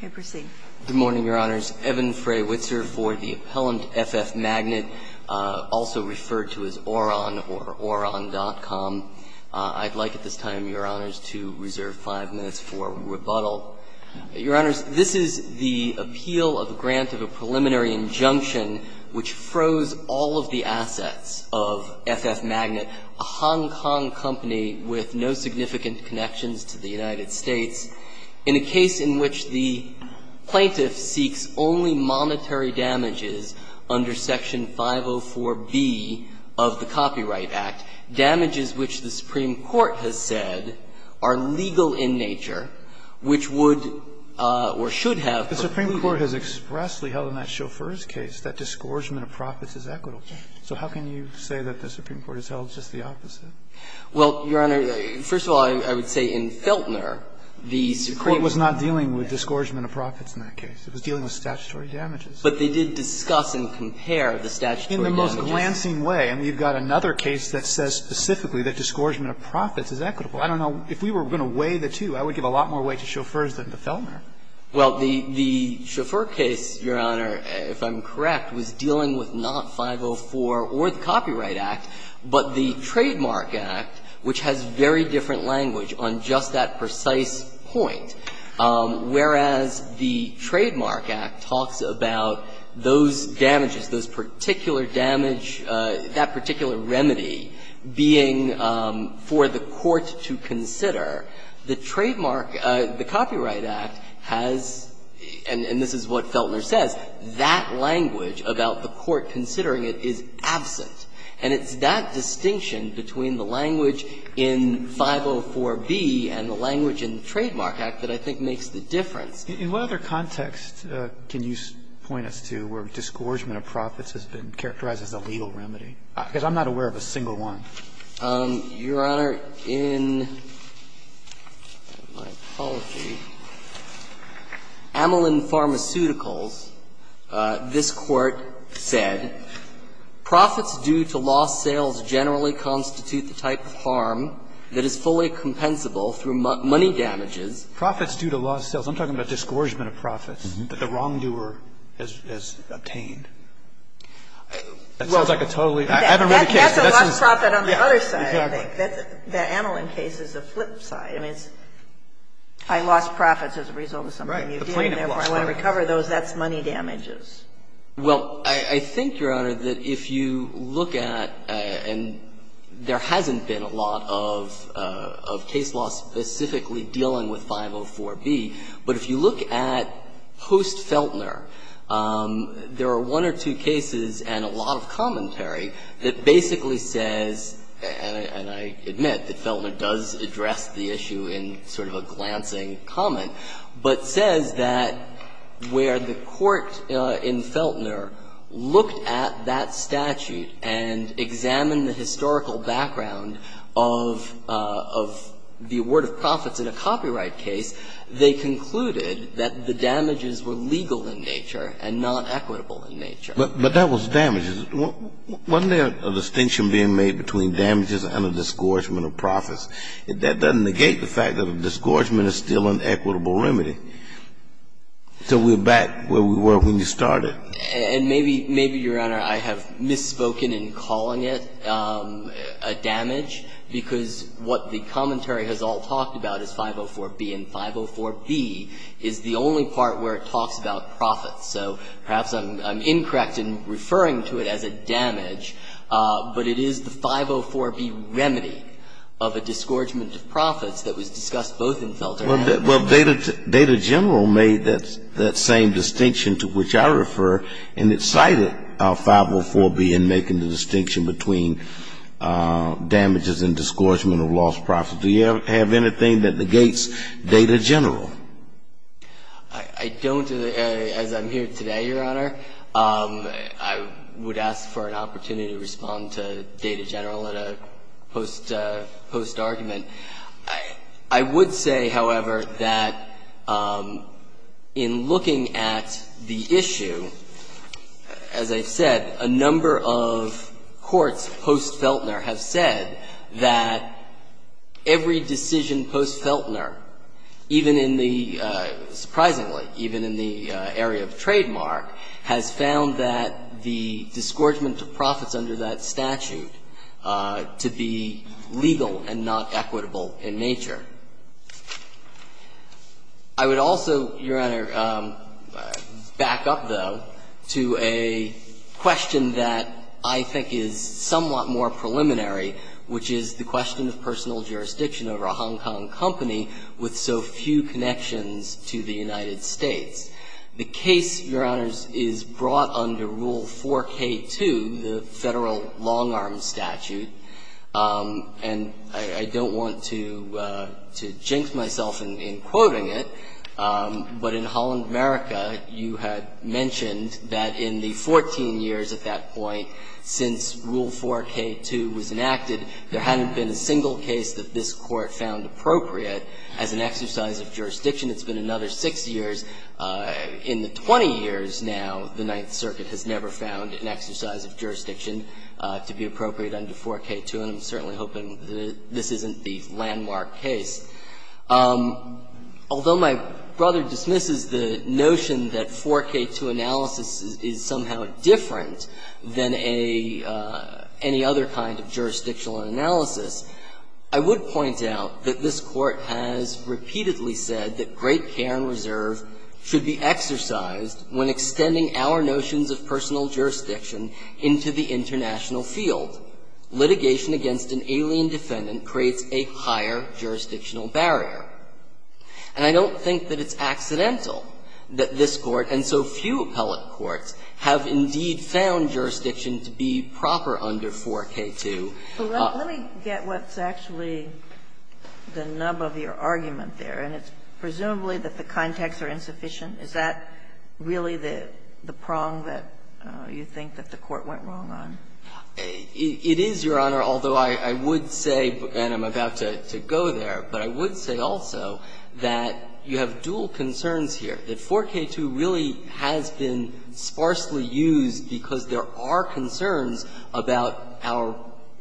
Good morning, Your Honors. Evan Fray-Witzer for the appellant, FF Magnat, also referred to as Oron or Oron.com. I'd like at this time, Your Honors, to reserve five minutes for rebuttal. Your Honors, this is the appeal of a grant of a preliminary injunction which froze all of the assets of FF Magnat, a Hong Kong company with no significant connections to the United States, in a case in which the plaintiff seeks only monetary damages under Section 504B of the Copyright Act, damages which the Supreme Court has said are legal in nature, which would or should have been. The Supreme Court has expressly held in that Chauffeur's case that discouragement of profits is equitable. So how can you say that the Supreme Court has held just the opposite? Well, Your Honor, first of all, I would say in Feltner, the Supreme Court was not dealing with discouragement of profits in that case. It was dealing with statutory damages. But they did discuss and compare the statutory damages. In the most glancing way. And we've got another case that says specifically that discouragement of profits is equitable. I don't know. If we were going to weigh the two, I would give a lot more weight to Chauffeurs than to Feltner. Well, the Chauffeur case, Your Honor, if I'm correct, was dealing with not 504 or the trademark act, which has very different language on just that precise point. Whereas the trademark act talks about those damages, those particular damage, that particular remedy being for the court to consider, the trademark, the Copyright Act has, and this is what Feltner says, that language about the court considering it is absent. And it's that distinction between the language in 504B and the language in the Trademark Act that I think makes the difference. In what other context can you point us to where discouragement of profits has been characterized as a legal remedy? Because I'm not aware of a single one. Your Honor, in my apology, Amelin Pharmaceuticals, this Court said, profits do not constitute the type of harm that is fully compensable through money damages. Profits due to lost sales. I'm talking about discouragement of profits that the wrongdoer has obtained. That sounds like a totally other case. That's a lost profit on the other side, I think. Exactly. The Amelin case is the flip side. I mean, it's I lost profits as a result of something you did. Right. The plaintiff lost money. Therefore, I want to recover those. That's money damages. Well, I think, Your Honor, that if you look at, and there hasn't been a lot of case law specifically dealing with 504B, but if you look at post-Feltner, there are one or two cases and a lot of commentary that basically says, and I admit that Feltner does address the issue in sort of a glancing comment, but says that where the Court in Feltner looked at that statute and examined the historical background of the award of profits in a copyright case, they concluded that the damages were legal in nature and not equitable in nature. But that was damages. Wasn't there a distinction being made between damages and a discouragement of profits? That doesn't negate the fact that a discouragement is still an equitable remedy. So we're back where we were when you started. And maybe, Your Honor, I have misspoken in calling it a damage, because what the commentary has all talked about is 504B, and 504B is the only part where it talks about profits. So perhaps I'm incorrect in referring to it as a damage, but it is the 504B remedy Well, Data General made that same distinction to which I refer, and it cited 504B in making the distinction between damages and discouragement of lost profits. Do you have anything that negates Data General? I don't, as I'm here today, Your Honor. I would ask for an opportunity to respond to Data General at a post-argument. I would say, however, that in looking at the issue, as I said, a number of courts post-Feltner have said that every decision post-Feltner, even in the surprisingly, even in the area of trademark, has found that the discouragement of profits under that statute to be legal and not equitable in nature. I would also, Your Honor, back up, though, to a question that I think is somewhat more preliminary, which is the question of personal jurisdiction over a Hong Kong company with so few connections to the United States. The case, Your Honors, is brought under Rule 4K2, the Federal Long-Arm Statute, and I don't want to jinx myself in quoting it, but in Holland, America, you had mentioned that in the 14 years at that point since Rule 4K2 was enacted, there hadn't been a single case that this Court found appropriate as an exercise of jurisdiction. It's been another six years. In the 20 years now, the Ninth Circuit has never found an exercise of jurisdiction to be appropriate under 4K2, and I'm certainly hoping that this isn't the landmark case. Although my brother dismisses the notion that 4K2 analysis is somehow different than any other kind of jurisdictional analysis, I would point out that this Court has repeatedly said that great care and reserve should be exercised when extending our notions of personal jurisdiction into the international field. Litigation against an alien defendant creates a higher jurisdictional barrier. And I don't think that it's accidental that this Court, and so few appellate courts, have indeed found jurisdiction to be proper under 4K2. Kagan, let me get what's actually the nub of your argument there. And it's presumably that the contexts are insufficient. Is that really the prong that you think that the Court went wrong on? It is, Your Honor, although I would say, and I'm about to go there, but I would say also that you have dual concerns here, that 4K2 really has been sparsely used because there are concerns about our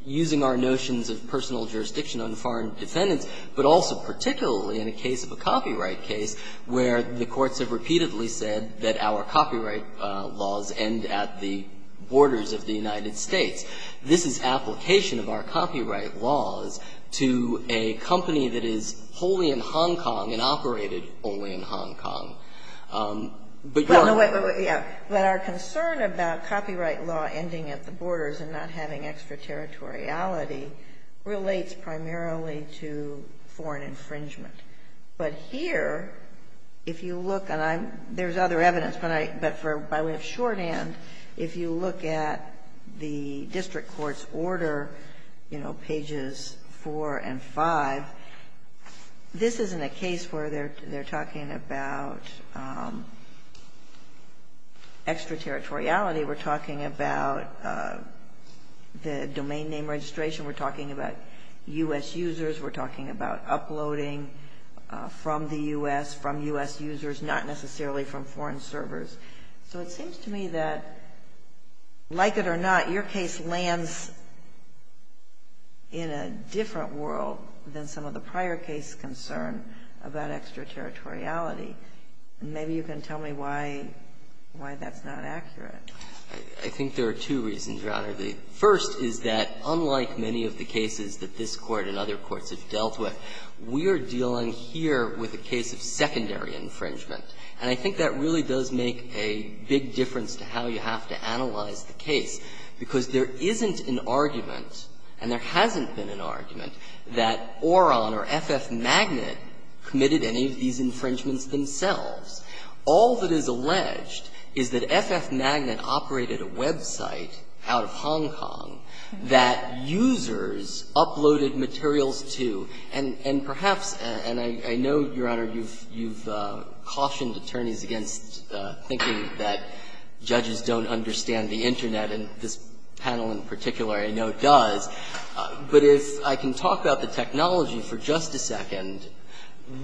using our notions of personal jurisdiction on foreign defendants, but also particularly in a case of a copyright case where the courts have repeatedly said that our copyright laws end at the borders of the United States. This is application of our copyright laws to a company that is wholly in Hong Kong and operated wholly in Hong Kong. But, Your Honor. But our concern about copyright law ending at the borders and not having extraterritoriality relates primarily to foreign infringement. But here, if you look, and there's other evidence, but for by way of shorthand, if you look at the district court's order, you know, pages 4 and 5, this isn't a case where they're talking about extraterritoriality. We're talking about the domain name registration. We're talking about U.S. users. We're talking about uploading from the U.S., from U.S. users, not necessarily from foreign servers. So it seems to me that, like it or not, your case lands in a different world than some of the prior case concern about extraterritoriality. Maybe you can tell me why that's not accurate. I think there are two reasons, Your Honor. The first is that, unlike many of the cases that this Court and other courts have dealt with, we are dealing here with a case of secondary infringement. And I think that really does make a big difference to how you have to analyze the case, because there isn't an argument, and there hasn't been an argument, that Oron or FF Magnet committed any of these infringements themselves. All that is alleged is that FF Magnet operated a website out of Hong Kong that users uploaded materials to, and perhaps, and I know, Your Honor, you've cautioned attorneys against thinking that judges don't understand the Internet, and this panel in particular I know does. But if I can talk about the technology for just a second,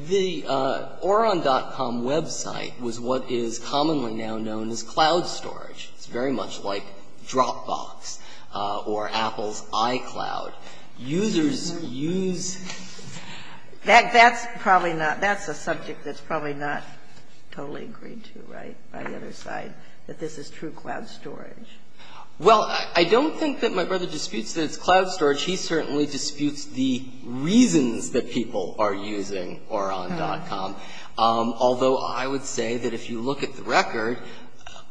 the Oron.com website was what is commonly now known as cloud storage. It's very much like Dropbox or Apple's iCloud. Users use... That's probably not, that's a subject that's probably not totally agreed to, right, by the other side, that this is true cloud storage. Well, I don't think that my brother disputes that it's cloud storage. He certainly disputes the reasons that people are using Oron.com. Although, I would say that if you look at the record,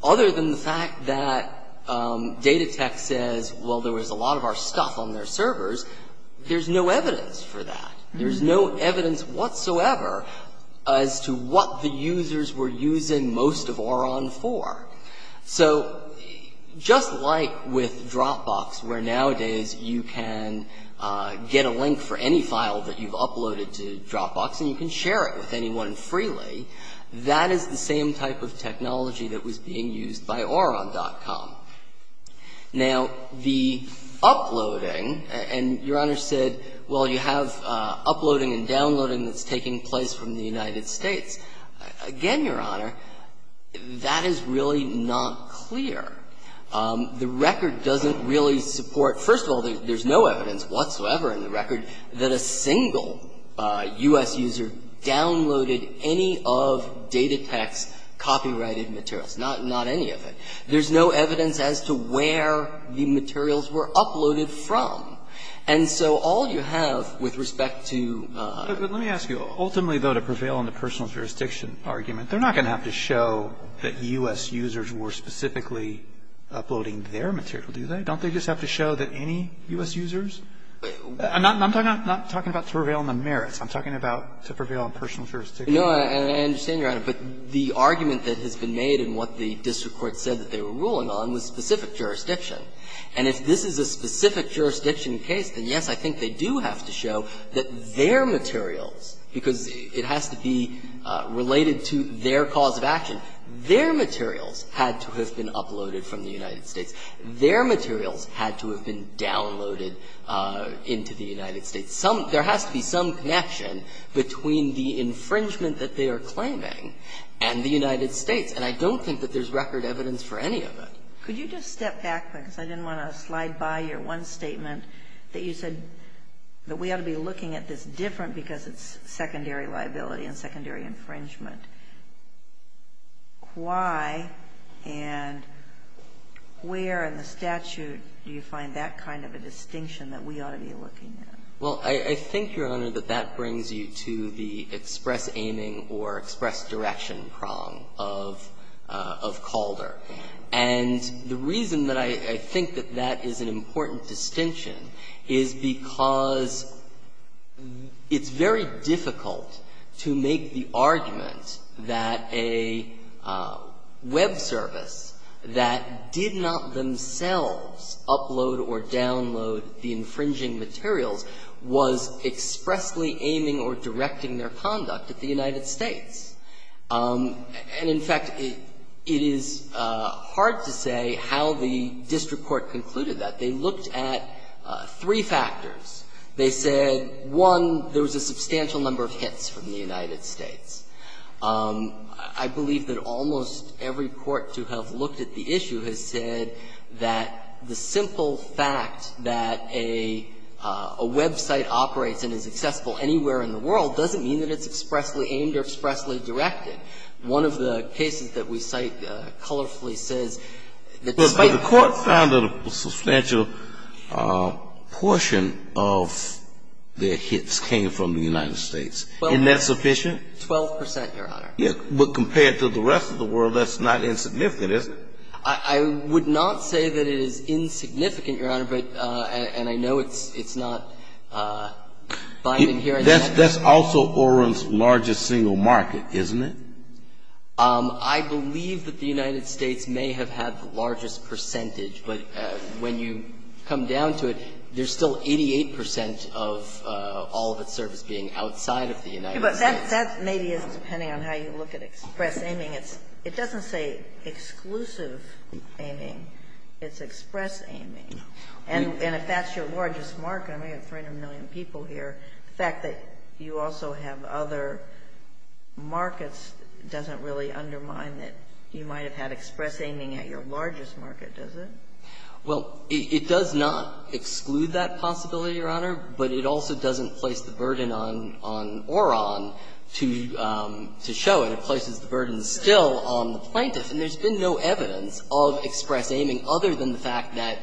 other than the fact that there's no evidence for that. There's no evidence whatsoever as to what the users were using most of Oron for. So just like with Dropbox, where nowadays you can get a link for any file that you've uploaded to Dropbox and you can share it with anyone freely, that is the same type of technology that was being used by Oron.com. Now, the uploading, and Your Honor said, well, you have uploading and downloading that's taking place from the United States. Again, Your Honor, that is really not clear. The record doesn't really support, first of all, there's no evidence whatsoever in the record that a single U.S. user downloaded any of Datatex's copyrighted materials, not any of it. There's no evidence as to where the materials were uploaded from. And so all you have with respect to ---- Let me ask you. Ultimately, though, to prevail on the personal jurisdiction argument, they're not going to have to show that U.S. users were specifically uploading their material, do they? Don't they just have to show that any U.S. users? I'm not talking about to prevail on the merits. No, I understand, Your Honor. But the argument that has been made and what the district court said that they were ruling on was specific jurisdiction. And if this is a specific jurisdiction case, then, yes, I think they do have to show that their materials, because it has to be related to their cause of action, their materials had to have been uploaded from the United States. Their materials had to have been downloaded into the United States. There has to be some connection between the infringement that they are claiming and the United States. And I don't think that there's record evidence for any of it. Could you just step back, because I didn't want to slide by your one statement that you said that we ought to be looking at this different because it's secondary liability and secondary infringement. Why and where in the statute do you find that kind of a distinction that we ought to be looking at? Well, I think, Your Honor, that that brings you to the express aiming or express direction prong of Calder. And the reason that I think that that is an important distinction is because it's very difficult to make the argument that a web service that did not themselves upload or download the infringing materials was expressly aiming or directing their conduct at the United States. And, in fact, it is hard to say how the district court concluded that. They looked at three factors. They said, one, there was a substantial number of hits from the United States. I believe that almost every court to have looked at the issue has said that the simple fact that a website operates and is accessible anywhere in the world doesn't mean that it's expressly aimed or expressly directed. One of the cases that we cite colorfully says that despite the court found that a substantial portion of their hits came from the United States. Isn't that sufficient? Twelve percent, Your Honor. But compared to the rest of the world, that's not insignificant, is it? I would not say that it is insignificant, Your Honor. And I know it's not binding here. That's also Oren's largest single market, isn't it? I believe that the United States may have had the largest percentage. But when you come down to it, there's still 88 percent of all of its service being outside of the United States. But that maybe isn't depending on how you look at express aiming. It doesn't say exclusive aiming. It's express aiming. And if that's your largest market, and we have 300 million people here, the fact that you also have other markets doesn't really undermine that you might have had express aiming at your largest market, does it? Well, it does not exclude that possibility, Your Honor, but it also doesn't place the burden on Oren to show it. It places the burden still on the plaintiff. And there's been no evidence of express aiming other than the fact that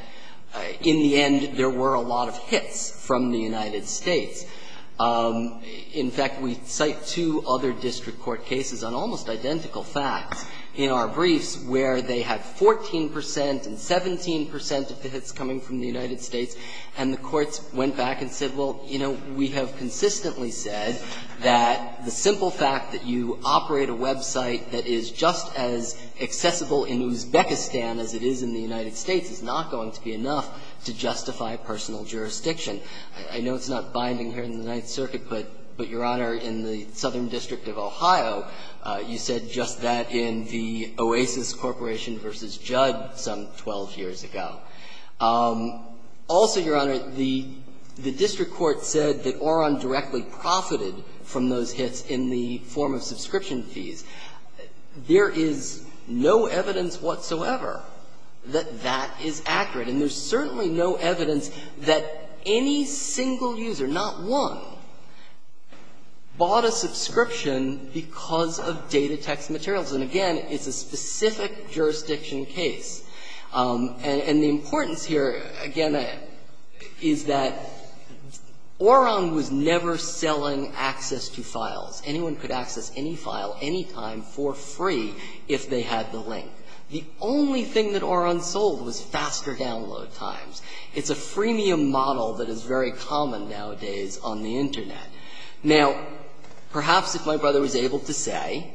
in the end there were a lot of hits from the United States. In fact, we cite two other district court cases on almost identical facts in our briefs where they had 14 percent and 17 percent of the hits coming from the United States, and the courts went back and said, well, you know, we have consistently said that the simple fact that you operate a website that is just as accessible in Uzbekistan as it is in the United States is not going to be enough to justify personal jurisdiction. I know it's not binding here in the Ninth Circuit, but, Your Honor, in the Southern District of Ohio, you said just that in the Oasis Corporation v. Judd some 12 years ago. Also, Your Honor, the district court said that Oren directly profited from those hits in the form of subscription fees. There is no evidence whatsoever that that is accurate. And there's certainly no evidence that any single user, not one, bought a subscription because of data text materials. And, again, it's a specific jurisdiction case. And the importance here, again, is that Oren was never selling access to files. Anyone could access any file, any time, for free if they had the link. The only thing that Oren sold was faster download times. It's a freemium model that is very common nowadays on the Internet. Now, perhaps if my brother was able to say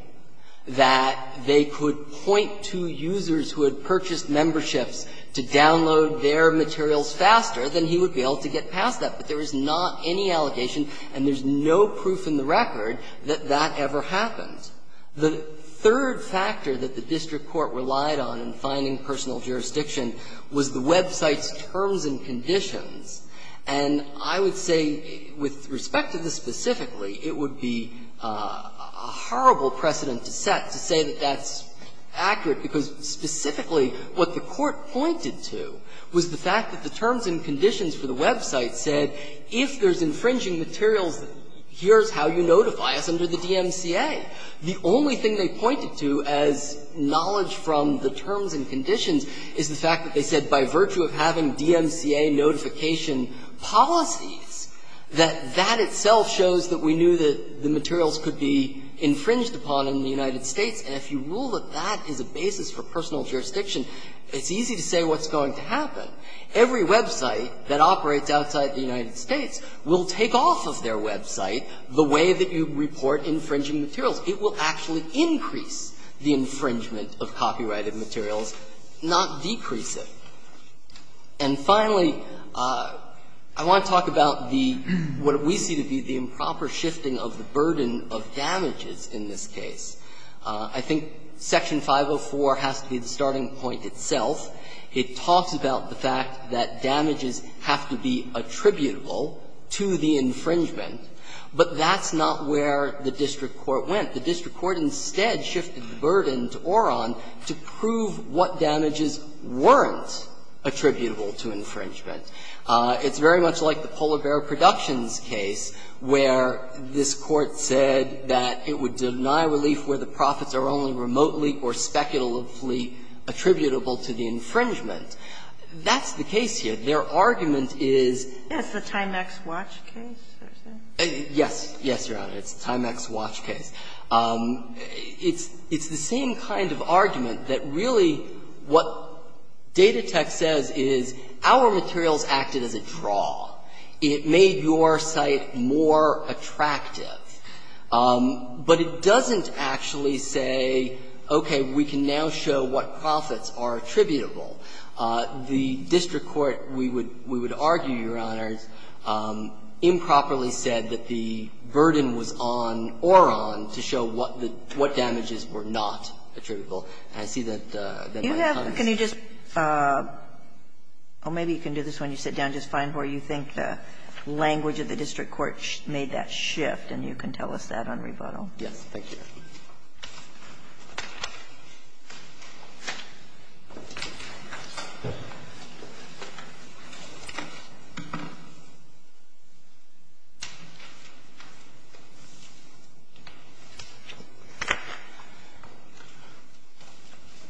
that they could point to users who had purchased memberships to download their materials faster, then he would be able to get past that. But there is not any allegation, and there's no proof in the record, that that ever happened. The third factor that the district court relied on in finding personal jurisdiction was the website's terms and conditions. And I would say, with respect to this specifically, it would be a horrible precedent to set to say that that's accurate, because specifically what the court pointed to was the fact that the terms and conditions for the website said, if there's infringing materials, here's how you notify us under the DMCA. The only thing they pointed to as knowledge from the terms and conditions is the fact that they said, by virtue of having DMCA notification policies, that that itself shows that we knew that the materials could be infringed upon in the United States. And if you rule that that is a basis for personal jurisdiction, it's easy to say what's going to happen. Every website that operates outside the United States will take off of their website the way that you report infringing materials. It will actually increase the infringement of copyrighted materials, not decrease And finally, I want to talk about the what we see to be the improper shifting of the burden of damages in this case. I think Section 504 has to be the starting point itself. It talks about the fact that damages have to be attributable to the infringement, but that's not where the district court went. The district court instead shifted the burden to Oron to prove what damages weren't attributable to infringement. It's very much like the Polar Bear Productions case where this Court said that it would deny relief where the profits are only remotely or speculatively attributable to the infringement. That's the case here. Their argument is the timex watch case. Yes. Yes, Your Honor. It's the timex watch case. It's the same kind of argument that really what Data Tech says is our materials acted as a draw. It made your site more attractive. But it doesn't actually say, okay, we can now show what profits are attributable. The district court, we would argue, Your Honors, improperly said that the burden was on Oron to show what damages were not attributable. And I see that my time is up. Can you just – oh, maybe you can do this when you sit down. Just find where you think the language of the district court made that shift, and you can tell us that on rebuttal. Yes. Thank you.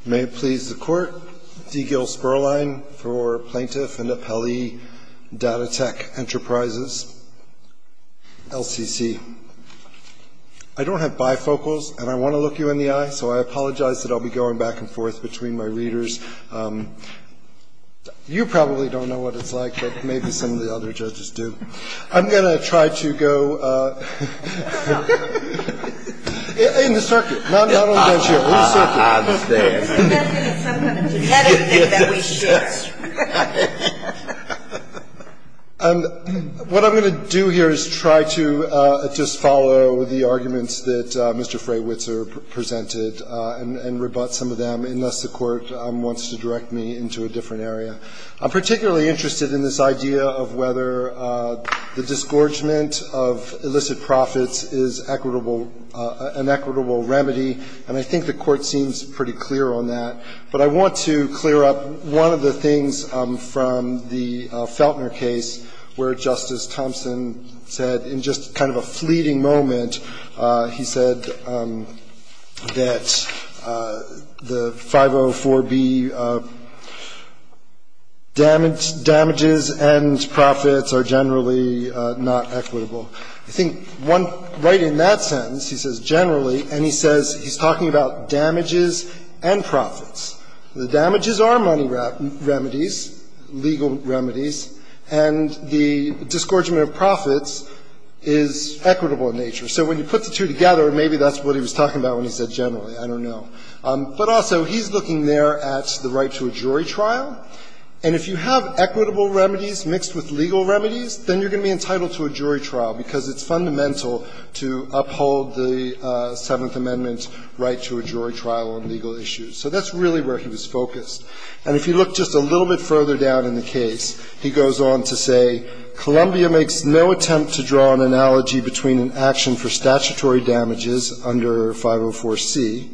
May it please the Court. D. Gil Sperlein for Plaintiff and Appellee Data Tech Enterprises, LCC. I don't have bifocals, and I want to look you in the eye. So I apologize that I'll be going back and forth between my readers. You probably don't know what it's like, but maybe some of the other judges do. I'm going to try to go in the circuit, not on the bench here, in the circuit. And what I'm going to do here is try to just follow the arguments that Mr. Freywitzer presented and rebut some of them, unless the Court wants to direct me into a different area. I'm particularly interested in this idea of whether the disgorgement of illicit I want to clear up one of the things from the Feltner case where Justice Thompson said, in just kind of a fleeting moment, he said that the 504B damages and profits are generally not equitable. I think right in that sentence, he says generally, and he says he's talking about damages and profits. The damages are money remedies, legal remedies, and the disgorgement of profits is equitable in nature. So when you put the two together, maybe that's what he was talking about when he said generally. I don't know. But also, he's looking there at the right to a jury trial, and if you have equitable remedies mixed with legal remedies, then you're going to be entitled to a jury trial because it's fundamental to uphold the Seventh Amendment right to a jury trial on legal issues. So that's really where he was focused. And if you look just a little bit further down in the case, he goes on to say, Columbia makes no attempt to draw an analogy between an action for statutory damages under 504C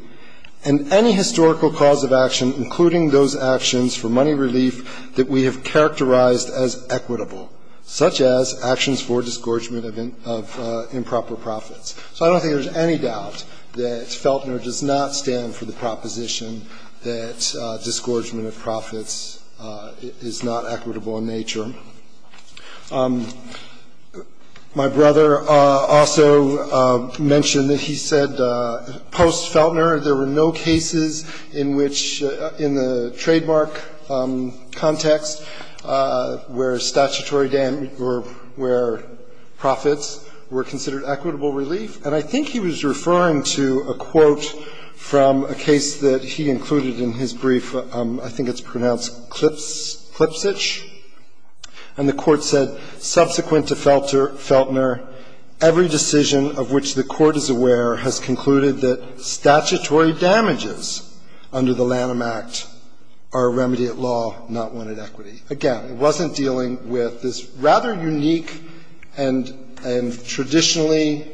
and any historical cause of action, including those actions for money relief that we have characterized as equitable, such as actions for disgorgement of improper profits. So I don't think there's any doubt that Feltner does not stand for the proposition that disgorgement of profits is not equitable in nature. My brother also mentioned that he said post-Feltner, there were no cases in which in the trademark context where statutory damage or where profits were considered equitable relief. And I think he was referring to a quote from a case that he included in his brief. I think it's pronounced Klipsch. And the Court said, Subsequent to Feltner, every decision of which the Court is aware has concluded that statutory damages under the Lanham Act are a remedy at law, not one at equity. Again, it wasn't dealing with this rather unique and traditionally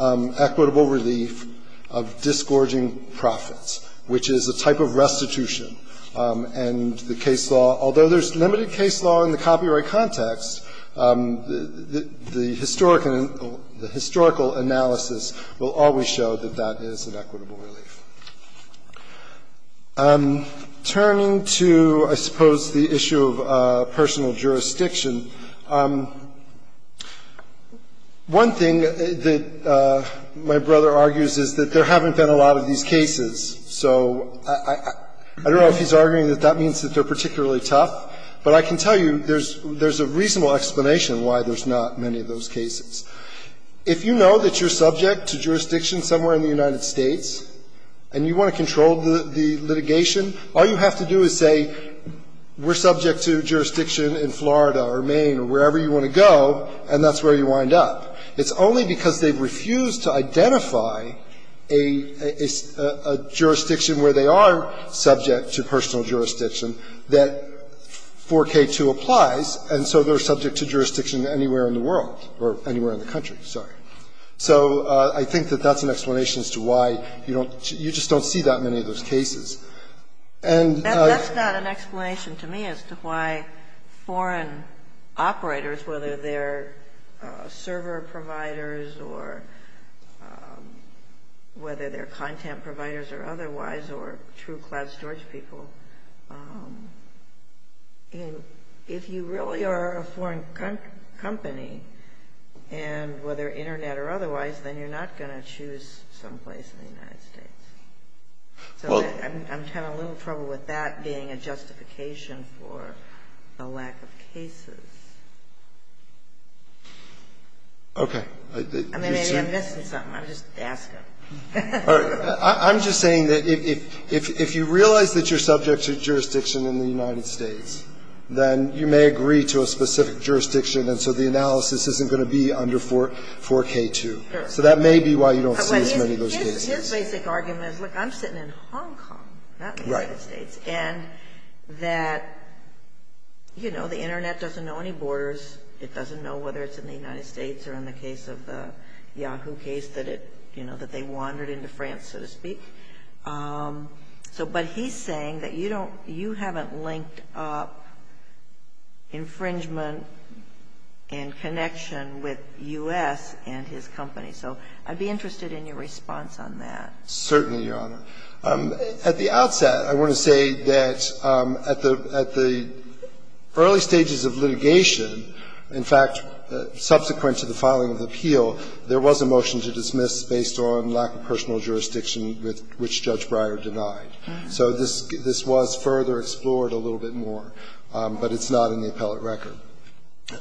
equitable relief of disgorging profits, which is a type of restitution. And the case law, although there's limited case law in the copyright context, the historical analysis will always show that that is an equitable relief. Turning to, I suppose, the issue of personal jurisdiction, one thing that my brother argues is that there haven't been a lot of these cases. So I don't know if he's arguing that that means that they're particularly tough, but I can tell you there's a reasonable explanation why there's not many of those cases. If you know that you're subject to jurisdiction somewhere in the United States and you want to control the litigation, all you have to do is say we're subject to jurisdiction in Florida or Maine or wherever you want to go, and that's where you wind up. It's only because they've refused to identify a jurisdiction where they are subject to personal jurisdiction that 4K2 applies, and so they're subject to jurisdiction anywhere in the world or anywhere in the country. Sorry. So I think that that's an explanation as to why you don't, you just don't see that many of those cases. And that's not an explanation to me as to why foreign operators, whether they're server providers or whether they're content providers or otherwise or true cloud storage people, if you really are a foreign company, and whether Internet or otherwise, then you're not going to choose someplace in the United States. So I'm having a little trouble with that being a justification for the lack of cases. Okay. I mean, maybe I'm missing something. I'm just asking. All right. I'm just saying that if you realize that you're subject to jurisdiction in the United States, then you may agree to a specific jurisdiction, and so the analysis isn't going to be under 4K2. Sure. So that may be why you don't see as many of those cases. His basic argument is, look, I'm sitting in Hong Kong, not the United States. Right. And that, you know, the Internet doesn't know any borders. It doesn't know whether it's in the United States or in the case of the Yahoo case that it, you know, that they wandered into France, so to speak. So but he's saying that you don't you haven't linked up infringement and connection with U.S. and his company. So I'd be interested in your response on that. Certainly, Your Honor. At the outset, I want to say that at the early stages of litigation, in fact, subsequent to the filing of the appeal, there was a motion to dismiss based on lack of personal jurisdiction which Judge Breyer denied. So this was further explored a little bit more, but it's not in the appellate record.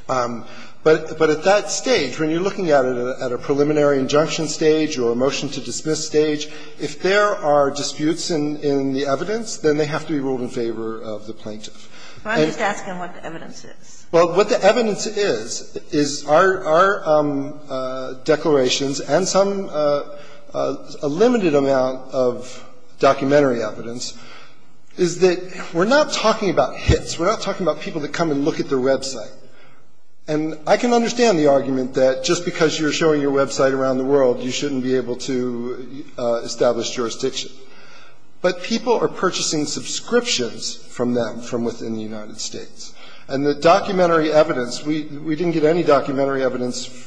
But at that stage, when you're looking at it at a preliminary injunction stage or a motion to dismiss stage, if there are disputes in the evidence, then they have to be ruled in favor of the plaintiff. So I'm just asking what the evidence is. Well, what the evidence is, is our declarations and some a limited amount of documentary evidence is that we're not talking about hits. We're not talking about people that come and look at their website. And I can understand the argument that just because you're showing your website around the world, you shouldn't be able to establish jurisdiction. But people are purchasing subscriptions from them from within the United States. And the documentary evidence, we didn't get any documentary evidence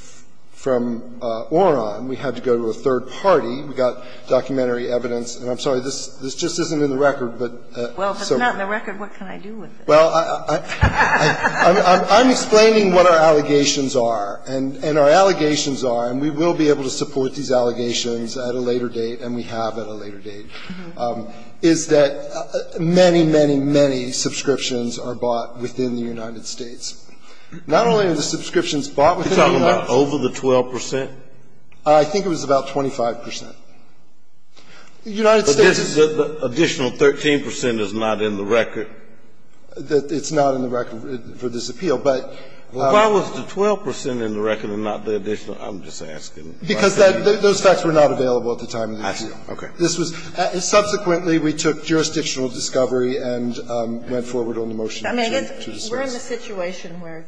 from Oron. We had to go to a third party. We got documentary evidence. And I'm sorry, this just isn't in the record, but so. Well, if it's not in the record, what can I do with it? Well, I'm explaining what our allegations are. And our allegations are, and we will be able to support these allegations at a later date, and we have at a later date, is that many, many, many subscriptions are bought within the United States. Not only are the subscriptions bought within the United States. You're talking about over the 12 percent? I think it was about 25 percent. The United States is the additional 13 percent is not in the record. It's not in the record for this appeal, but. Why was the 12 percent in the record and not the additional? I'm just asking. Because those facts were not available at the time of the appeal. Okay. Subsequently, we took jurisdictional discovery and went forward on the motion. We're in a situation where,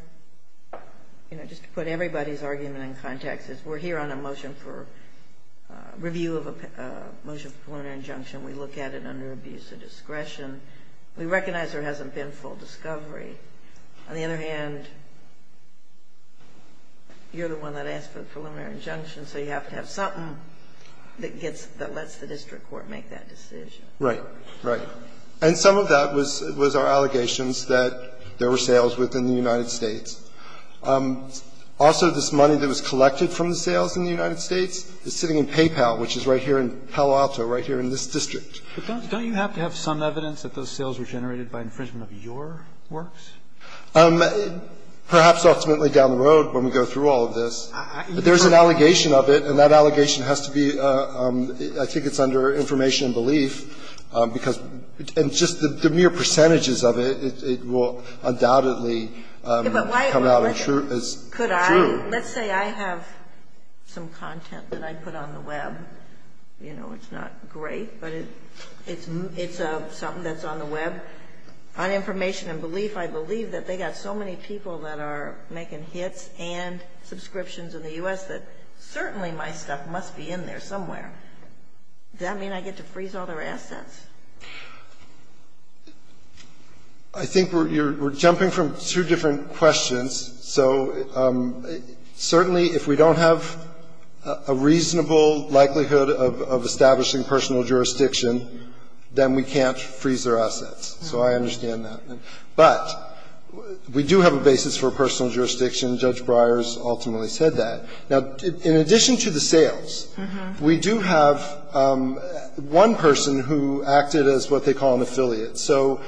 you know, just to put everybody's argument in context, we're here on a motion for review of a motion for preliminary injunction. We look at it under abuse of discretion. We recognize there hasn't been full discovery. On the other hand, you're the one that asked for the preliminary injunction, so you have to have something that gets the district court make that decision. Right. Right. And some of that was our allegations that there were sales within the United States. Also, this money that was collected from the sales in the United States is sitting in PayPal, which is right here in Palo Alto, right here in this district. Don't you have to have some evidence that those sales were generated by infringement of your works? Perhaps ultimately down the road when we go through all of this. But there's an allegation of it, and that allegation has to be, I think it's under information and belief, because the mere percentages of it, it will undoubtedly come out as true. Let's say I have some content that I put on the Web. You know, it's not great, but it's something that's on the Web. But on information and belief, I believe that they got so many people that are making hits and subscriptions in the U.S. that certainly my stuff must be in there somewhere. Does that mean I get to freeze all their assets? I think we're jumping from two different questions. So certainly if we don't have a reasonable likelihood of establishing personal jurisdiction, then we can't freeze their assets. So I understand that. But we do have a basis for personal jurisdiction. Judge Breyers ultimately said that. Now, in addition to the sales, we do have one person who acted as what they call an affiliate. So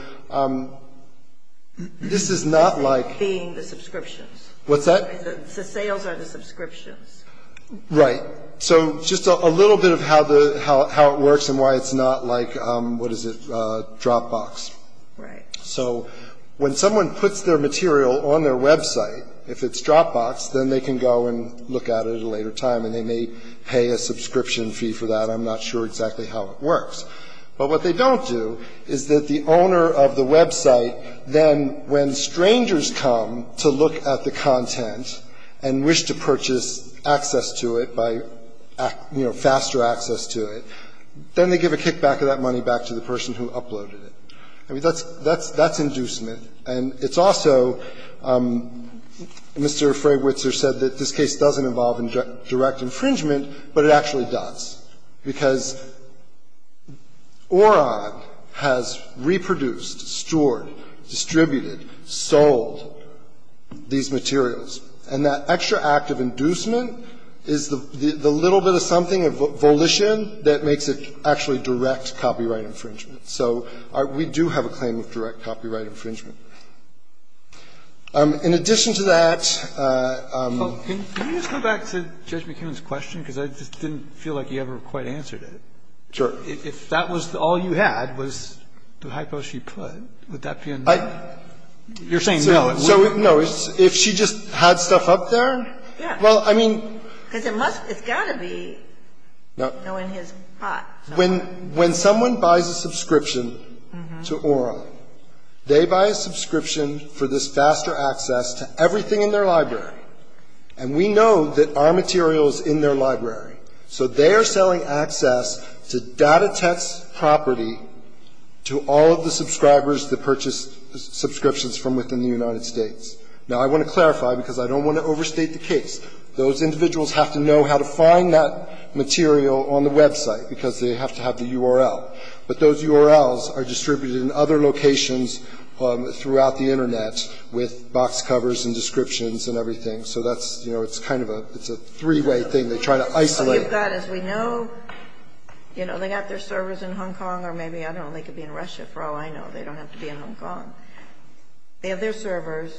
this is not like the subscriptions. What's that? The sales are the subscriptions. Right. So just a little bit of how it works and why it's not like, what is it, Dropbox. Right. So when someone puts their material on their Web site, if it's Dropbox, then they can go and look at it at a later time, and they may pay a subscription fee for that. I'm not sure exactly how it works. But what they don't do is that the owner of the Web site then, when strangers come to look at the content and wish to purchase access to it by, you know, faster access to it, then they give a kickback of that money back to the person who uploaded it. I mean, that's inducement. And it's also, Mr. Fray-Witzer said that this case doesn't involve direct infringement, but it actually does, because Oron has reproduced, stored, distributed, sold, and distributed these materials. And that extra act of inducement is the little bit of something, of volition, that makes it actually direct copyright infringement. So we do have a claim of direct copyright infringement. In addition to that ---- Well, can you just go back to Judge McKeown's question? Because I just didn't feel like you ever quite answered it. Sure. If that was all you had was the hypo she put, would that be enough? I ---- You're saying no. So, no. If she just had stuff up there? Yeah. Well, I mean ---- Because it must, it's got to be, you know, in his pot. When someone buys a subscription to Oron, they buy a subscription for this faster access to everything in their library. And we know that our material is in their library. So they are selling access to data text property to all of the subscribers that purchase subscriptions from within the United States. Now, I want to clarify, because I don't want to overstate the case. Those individuals have to know how to find that material on the website because they have to have the URL. But those URLs are distributed in other locations throughout the Internet with box covers and descriptions and everything. So that's, you know, it's kind of a, it's a three-way thing. They try to isolate it. Well, you've got, as we know, you know, they've got their servers in Hong Kong or maybe, I don't know, they could be in Russia for all I know. They don't have to be in Hong Kong. They have their servers.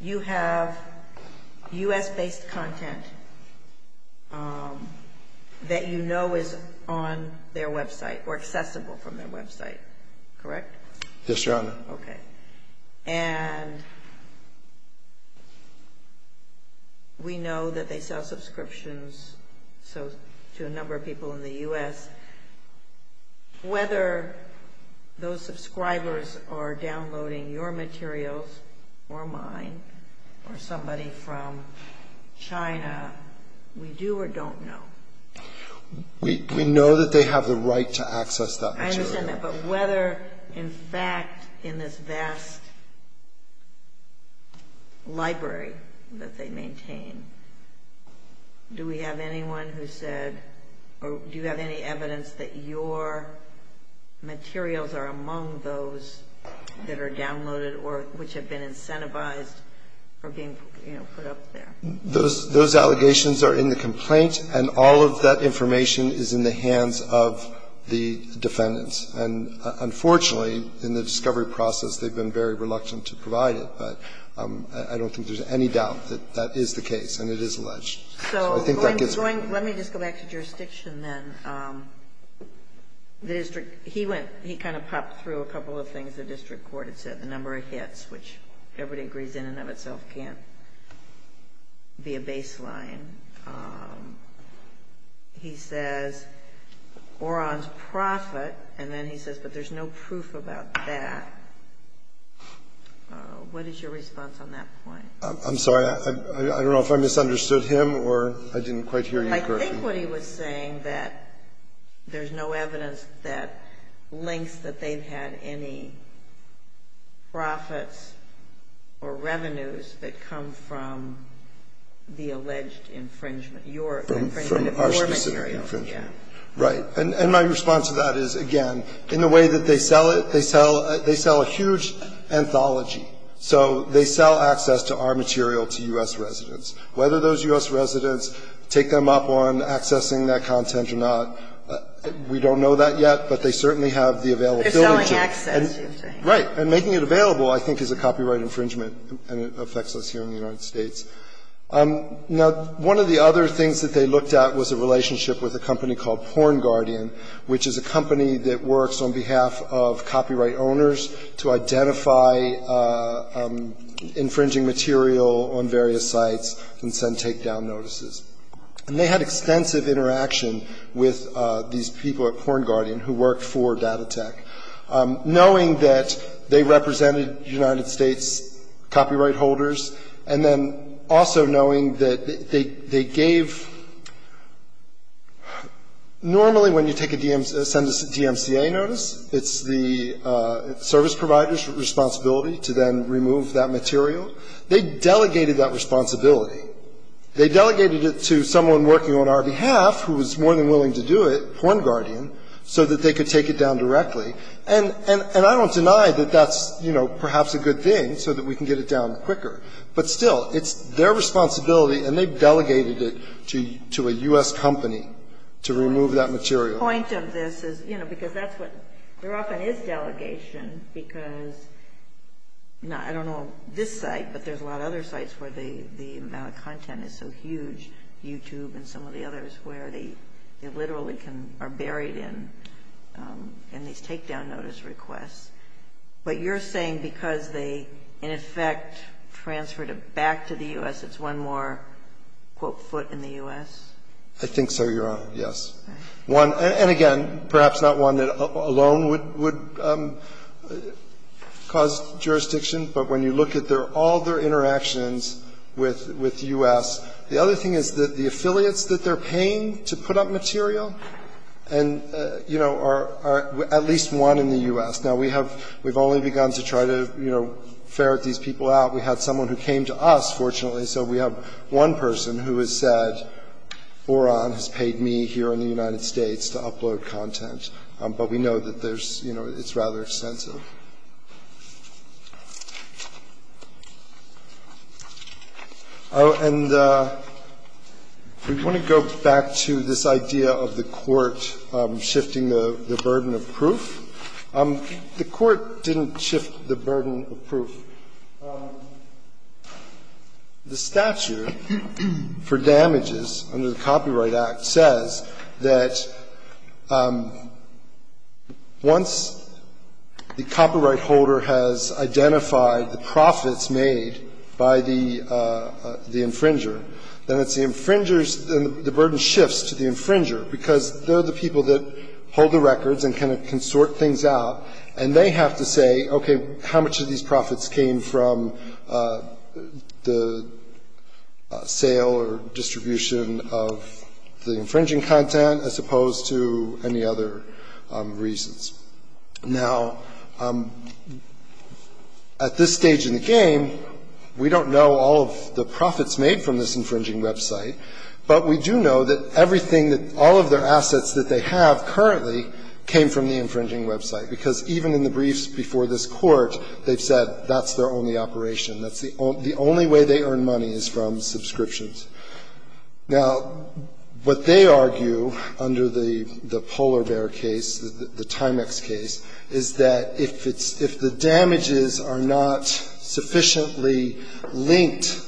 You have U.S.-based content that you know is on their website or accessible from their website, correct? Yes, Your Honor. Okay. And we know that they sell subscriptions to a number of people in the U.S. Whether those subscribers are downloading your materials or mine or somebody from China, we do or don't know. We know that they have the right to access that material. I understand that. But whether, in fact, in this vast library that they maintain, do we have anyone who said or do you have any evidence that your materials are among those that are downloaded or which have been incentivized for being, you know, put up there? Those allegations are in the complaint, and all of that information is in the hands of the defendants. And unfortunately, in the discovery process, they've been very reluctant to provide it. I don't think there's any doubt that that is the case, and it is alleged. Let me just go back to jurisdiction then. He kind of popped through a couple of things the district court had said, the number of hits, which everybody agrees in and of itself can't be a baseline. He says Oron's profit, and then he says, but there's no proof about that. What is your response on that point? I'm sorry. I don't know if I misunderstood him or I didn't quite hear you correctly. I think what he was saying that there's no evidence that links that they've had any profits or revenues that come from the alleged infringement, your infringement of your materials. Right. And my response to that is, again, in the way that they sell it, they sell a huge anthology. So they sell access to our material to U.S. residents. Whether those U.S. residents take them up on accessing that content or not, we don't know that yet, but they certainly have the availability. They're selling access. Right. And making it available, I think, is a copyright infringement, and it affects us here in the United States. Now, one of the other things that they looked at was a relationship with a company called PornGuardian, which is a company that works on behalf of copyright owners to identify infringing material on various sites and send takedown notices. And they had extensive interaction with these people at PornGuardian who worked for DataTek, knowing that they represented United States copyright holders, and then also knowing that they gave — normally when you take a DMCA notice, it's the service provider's responsibility to then remove that material. They delegated that responsibility. They delegated it to someone working on our behalf who was more than willing to do it, PornGuardian, so that they could take it down directly. And I don't deny that that's, you know, perhaps a good thing so that we can get it down quicker. But still, it's their responsibility, and they've delegated it to a U.S. company to remove that material. The point of this is, you know, because that's what — there often is delegation because — I don't know of this site, but there's a lot of other sites where the amount of content is so huge, YouTube and some of the others, where they literally are buried in these takedown notice requests. But you're saying because they, in effect, transferred it back to the U.S., it's one more, quote, foot in the U.S.? I think so, Your Honor, yes. And again, perhaps not one that alone would cause jurisdiction, but when you look at all their interactions with the U.S. The other thing is that the affiliates that they're paying to put up material and, you know, are at least one in the U.S. Now, we have — we've only begun to try to, you know, ferret these people out. We had someone who came to us, fortunately, so we have one person who has said Oron has paid me here in the United States to upload content. But we know that there's — you know, it's rather extensive. And we want to go back to this idea of the court shifting the burden of proof. The court didn't shift the burden of proof. The statute for damages under the Copyright Act says that once the copyright holder has identified the profits made by the infringer, then it's the infringer's — the burden shifts to the infringer, because they're the people that hold the records and can sort things out, and they have to say, okay, how much of these profits came from the sale or distribution of the infringing content, as opposed to any other reasons. Now, at this stage in the game, we don't know all of the profits made from this infringing website, but we do know that everything that — all of their assets that they have currently came from the infringing website, because even in the briefs before this Court, they've said that's their only operation. That's the only way they earn money is from subscriptions. Now, what they argue under the Polar Bear case, the Timex case, is that if it's — if the damages are not sufficiently linked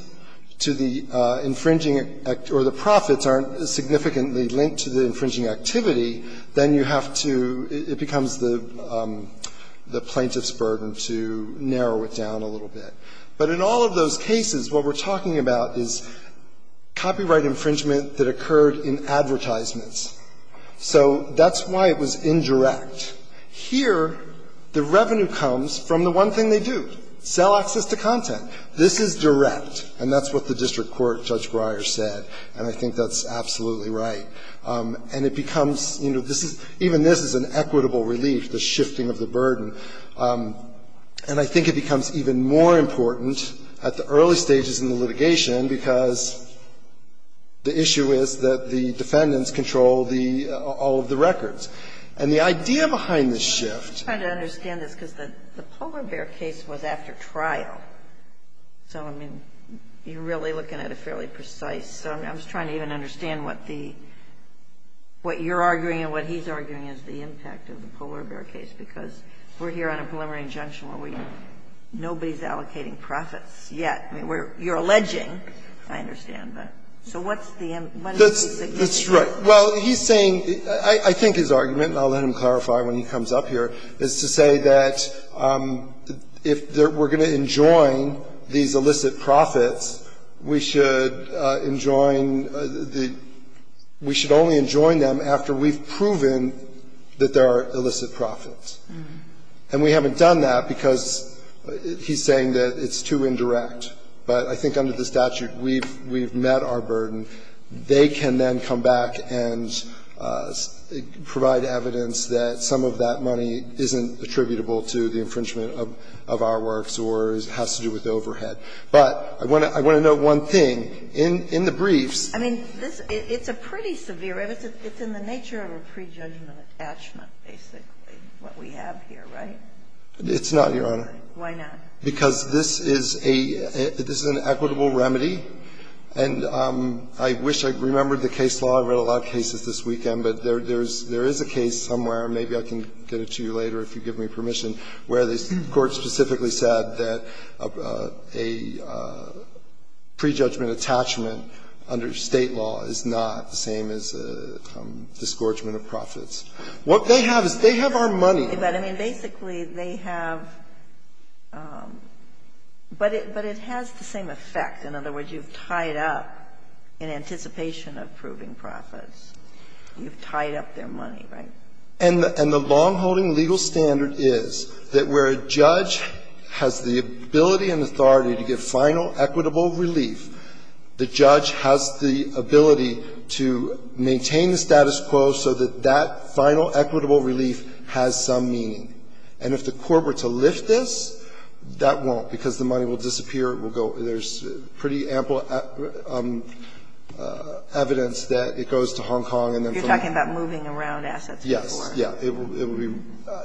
to the infringing — or the profits aren't significantly linked to the infringing activity, then you have to — it becomes the plaintiff's burden to narrow it down a little bit. But in all of those cases, what we're talking about is copyright infringement that occurred in advertisements. So that's why it was indirect. Here, the revenue comes from the one thing they do, sell access to content. This is direct, and that's what the district court, Judge Breyer, said, and I think that's absolutely right. And it becomes — you know, this is — even this is an equitable relief, the shifting of the burden. And I think it becomes even more important at the early stages in the litigation because the issue is that the defendants control the — all of the records. And the idea behind this shift — The Polar Bear case was after trial. So, I mean, you're really looking at a fairly precise — I was trying to even understand what the — what you're arguing and what he's arguing is the impact of the Polar Bear case, because we're here on a preliminary injunction where we — nobody's allocating profits yet. I mean, we're — you're alleging, I understand, but — so what's the — what is the significance? That's right. Well, he's saying — I think his argument, and I'll let him clarify when he comes up here, is to say that if we're going to enjoin these illicit profits, we should enjoin the — we should only enjoin them after we've proven that there are illicit profits. And we haven't done that because he's saying that it's too indirect. But I think under the statute, we've met our burden. They can then come back and provide evidence that some of that money isn't attributable to the infringement of our works or has to do with the overhead. But I want to know one thing. In the briefs — I mean, this — it's a pretty severe — it's in the nature of a prejudgment attachment, basically, what we have here, right? It's not, Your Honor. Why not? Because this is a — this is an equitable remedy, and I wish I remembered the case law. I've read a lot of cases this weekend, but there is a case somewhere, and maybe I can get it to you later if you give me permission, where the Court specifically said that a prejudgment attachment under State law is not the same as a disgorgement of profits. What they have is they have our money. But, I mean, basically, they have — but it has the same effect. In other words, you've tied up, in anticipation of proving profits, you've tied up their money, right? And the long-holding legal standard is that where a judge has the ability and authority to give final equitable relief, the judge has the ability to maintain the status quo so that that final equitable relief has some meaning. And if the Court were to lift this, that won't, because the money will disappear. It will go — there's pretty ample evidence that it goes to Hong Kong and then to the Court. Kagan. You're talking about moving around assets before. Yes. Yeah. It will be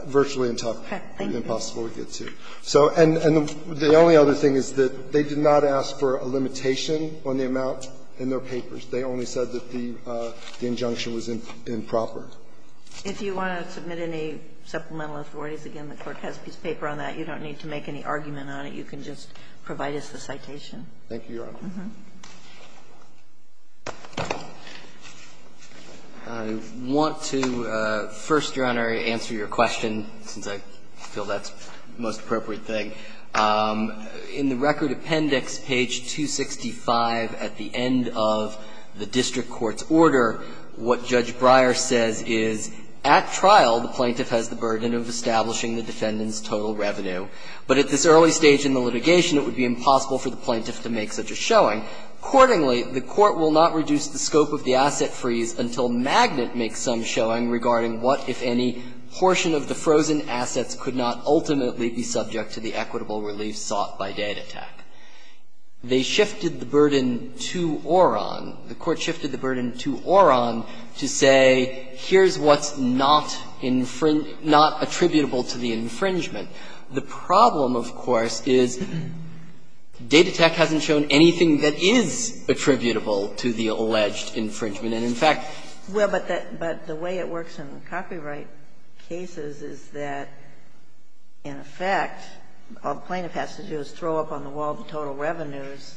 virtually impossible to get to. So, and the only other thing is that they did not ask for a limitation on the amount in their papers. They only said that the injunction was improper. If you want to submit any supplemental authorities, again, the Court has a piece of paper on that. You don't need to make any argument on it. You can just provide us the citation. Thank you, Your Honor. I want to, first, Your Honor, answer your question, since I feel that's the most I think it's important to make the point that, in the case of the plaintiff, in section 165 at the end of the district court's order, what Judge Breyer says is, at trial, the plaintiff has the burden of establishing the defendant's total revenue. But at this early stage in the litigation, it would be impossible for the plaintiff to make such a showing. Accordingly, the Court will not reduce the scope of the asset freeze until Magnet makes some showing regarding what, if any, portion of the frozen assets could not ultimately be subject to the equitable relief sought by Data Tech. They shifted the burden to Oron. The Court shifted the burden to Oron to say, here's what's not attributable to the infringement. The problem, of course, is Data Tech hasn't shown anything that is attributable to the alleged infringement. And, in fact, Well, but the way it works in copyright cases is that, in effect, all the plaintiff has to do is throw up on the wall the total revenues,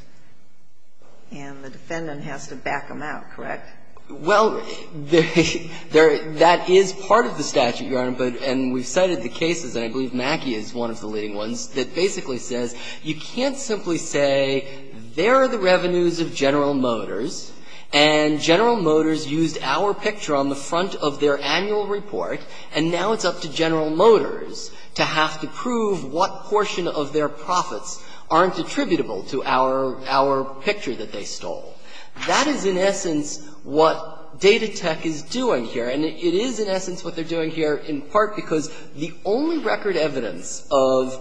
and the defendant has to back them out, correct? Well, that is part of the statute, Your Honor. And we've cited the cases, and I believe Mackie is one of the leading ones, that basically says, you can't simply say, there are the revenues of General Motors, and General Motors used our picture on the front of their annual report, and now it's up to General Motors to have to prove what portion of their profits aren't attributable to our picture that they stole. That is, in essence, what Data Tech is doing here. And it is, in essence, what they're doing here in part because the only record evidence of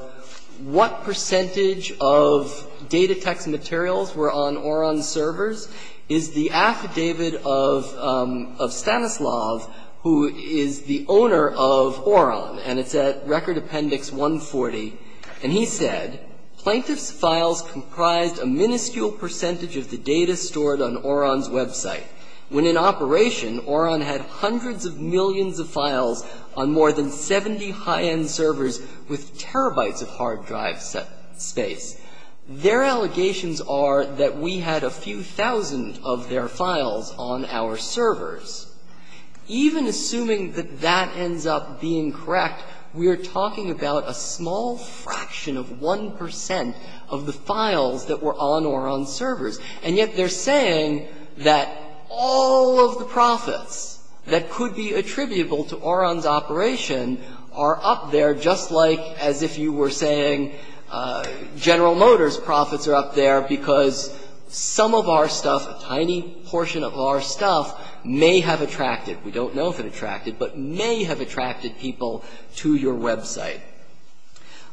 what percentage of Data Tech's materials were on Oron's servers is the affidavit of Stanislav, who is the owner of Oron, and it's at Record Appendix 140. And he said, Plaintiff's files comprised a minuscule percentage of the data stored on Oron's website. When in operation, Oron had hundreds of millions of files on more than 70 high-end servers with terabytes of hard drive space. Their allegations are that we had a few thousand of their files on our servers. Even assuming that that ends up being correct, we are talking about a small fraction of 1 percent of the files that were on Oron's servers. And yet they're saying that all of the profits that could be attributable to Oron's operation are up there, just like as if you were saying General Motors profits are up there because some of our stuff, a tiny portion of our stuff, may have attracted. We don't know if it attracted, but may have attracted people to your website.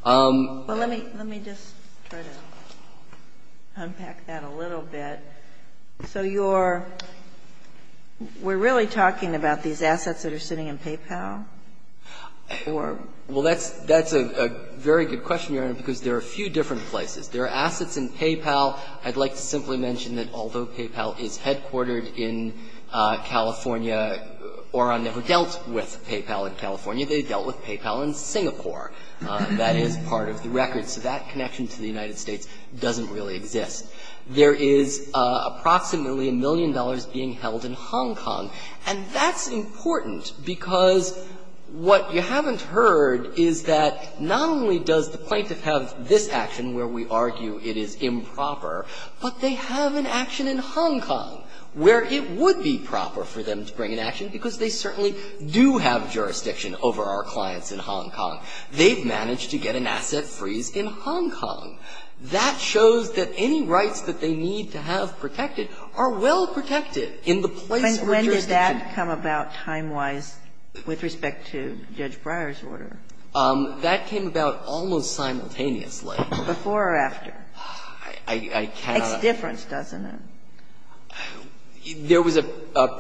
Well, let me just try to unpack that a little bit. So you're – we're really talking about these assets that are sitting in PayPal, or? Well, that's a very good question, Your Honor, because there are a few different places. There are assets in PayPal. I'd like to simply mention that although PayPal is headquartered in California, Oron never dealt with PayPal in California. They dealt with PayPal in Singapore. That is part of the record. So that connection to the United States doesn't really exist. There is approximately a million dollars being held in Hong Kong, and that's important because what you haven't heard is that not only does the plaintiff have this action where we argue it is improper, but they have an action in Hong Kong where it would be proper for them to bring an action because they certainly do have jurisdiction over our clients in Hong Kong. They've managed to get an asset freeze in Hong Kong. That shows that any rights that they need to have protected are well protected in the place of a jurisdiction. When did that come about time-wise with respect to Judge Breyer's order? That came about almost simultaneously. Before or after? I cannot. Makes a difference, doesn't it? There was a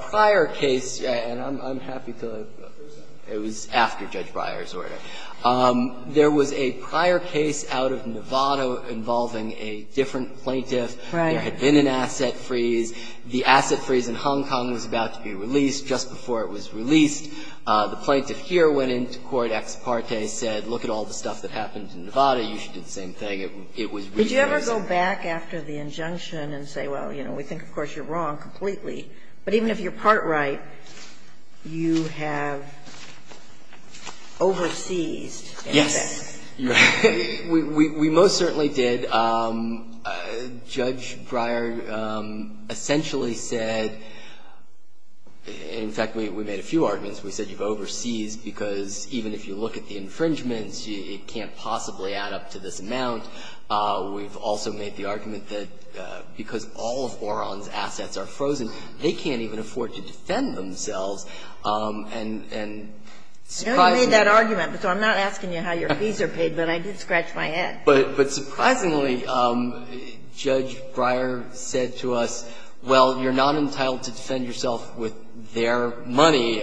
prior case, and I'm happy to present it was after Judge Breyer's order. There was a prior case out of Nevada involving a different plaintiff. Right. There had been an asset freeze. The asset freeze in Hong Kong was about to be released just before it was released. The plaintiff here went into court ex parte, said, look at all the stuff that happened in Nevada. You should do the same thing. It was really amazing. You go back after the injunction and say, well, you know, we think, of course, you're wrong completely. But even if you're part right, you have overseased anything. Yes. We most certainly did. Judge Breyer essentially said, in fact, we made a few arguments. We said you've overseased because even if you look at the infringements, it can't possibly add up to this amount. We've also made the argument that because all of Oron's assets are frozen, they can't even afford to defend themselves. And surprisingly — I know you made that argument, but I'm not asking you how your fees are paid. But I did scratch my head. But surprisingly, Judge Breyer said to us, well, you're not entitled to defend yourself with their money.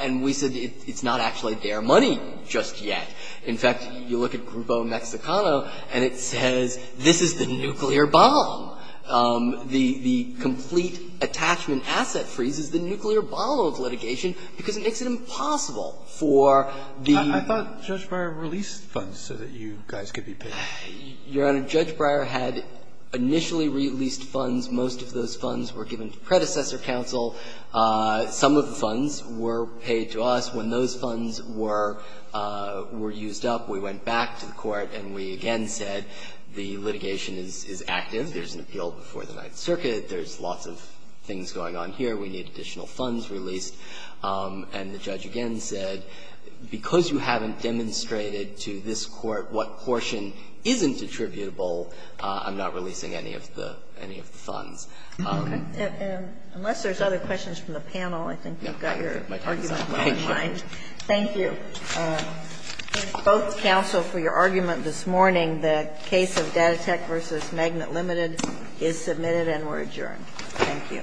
And we said it's not actually their money just yet. In fact, you look at Grupo Mexicano and it says this is the nuclear bomb. The complete attachment asset freeze is the nuclear bomb of litigation because it makes it impossible for the — I thought Judge Breyer released funds so that you guys could be paid. Your Honor, Judge Breyer had initially released funds. Most of those funds were given to predecessor counsel. Some of the funds were paid to us. When those funds were used up, we went back to the Court and we again said the litigation is active. There's an appeal before the Ninth Circuit. There's lots of things going on here. We need additional funds released. And the judge again said, because you haven't demonstrated to this Court what portion isn't attributable, I'm not releasing any of the funds. Unless there's other questions from the panel, I think you've got your argument in mind. Thank you. Both counsel for your argument this morning, the case of Data Tech v. Magnet Limited is submitted and we're adjourned. Thank you. All rise.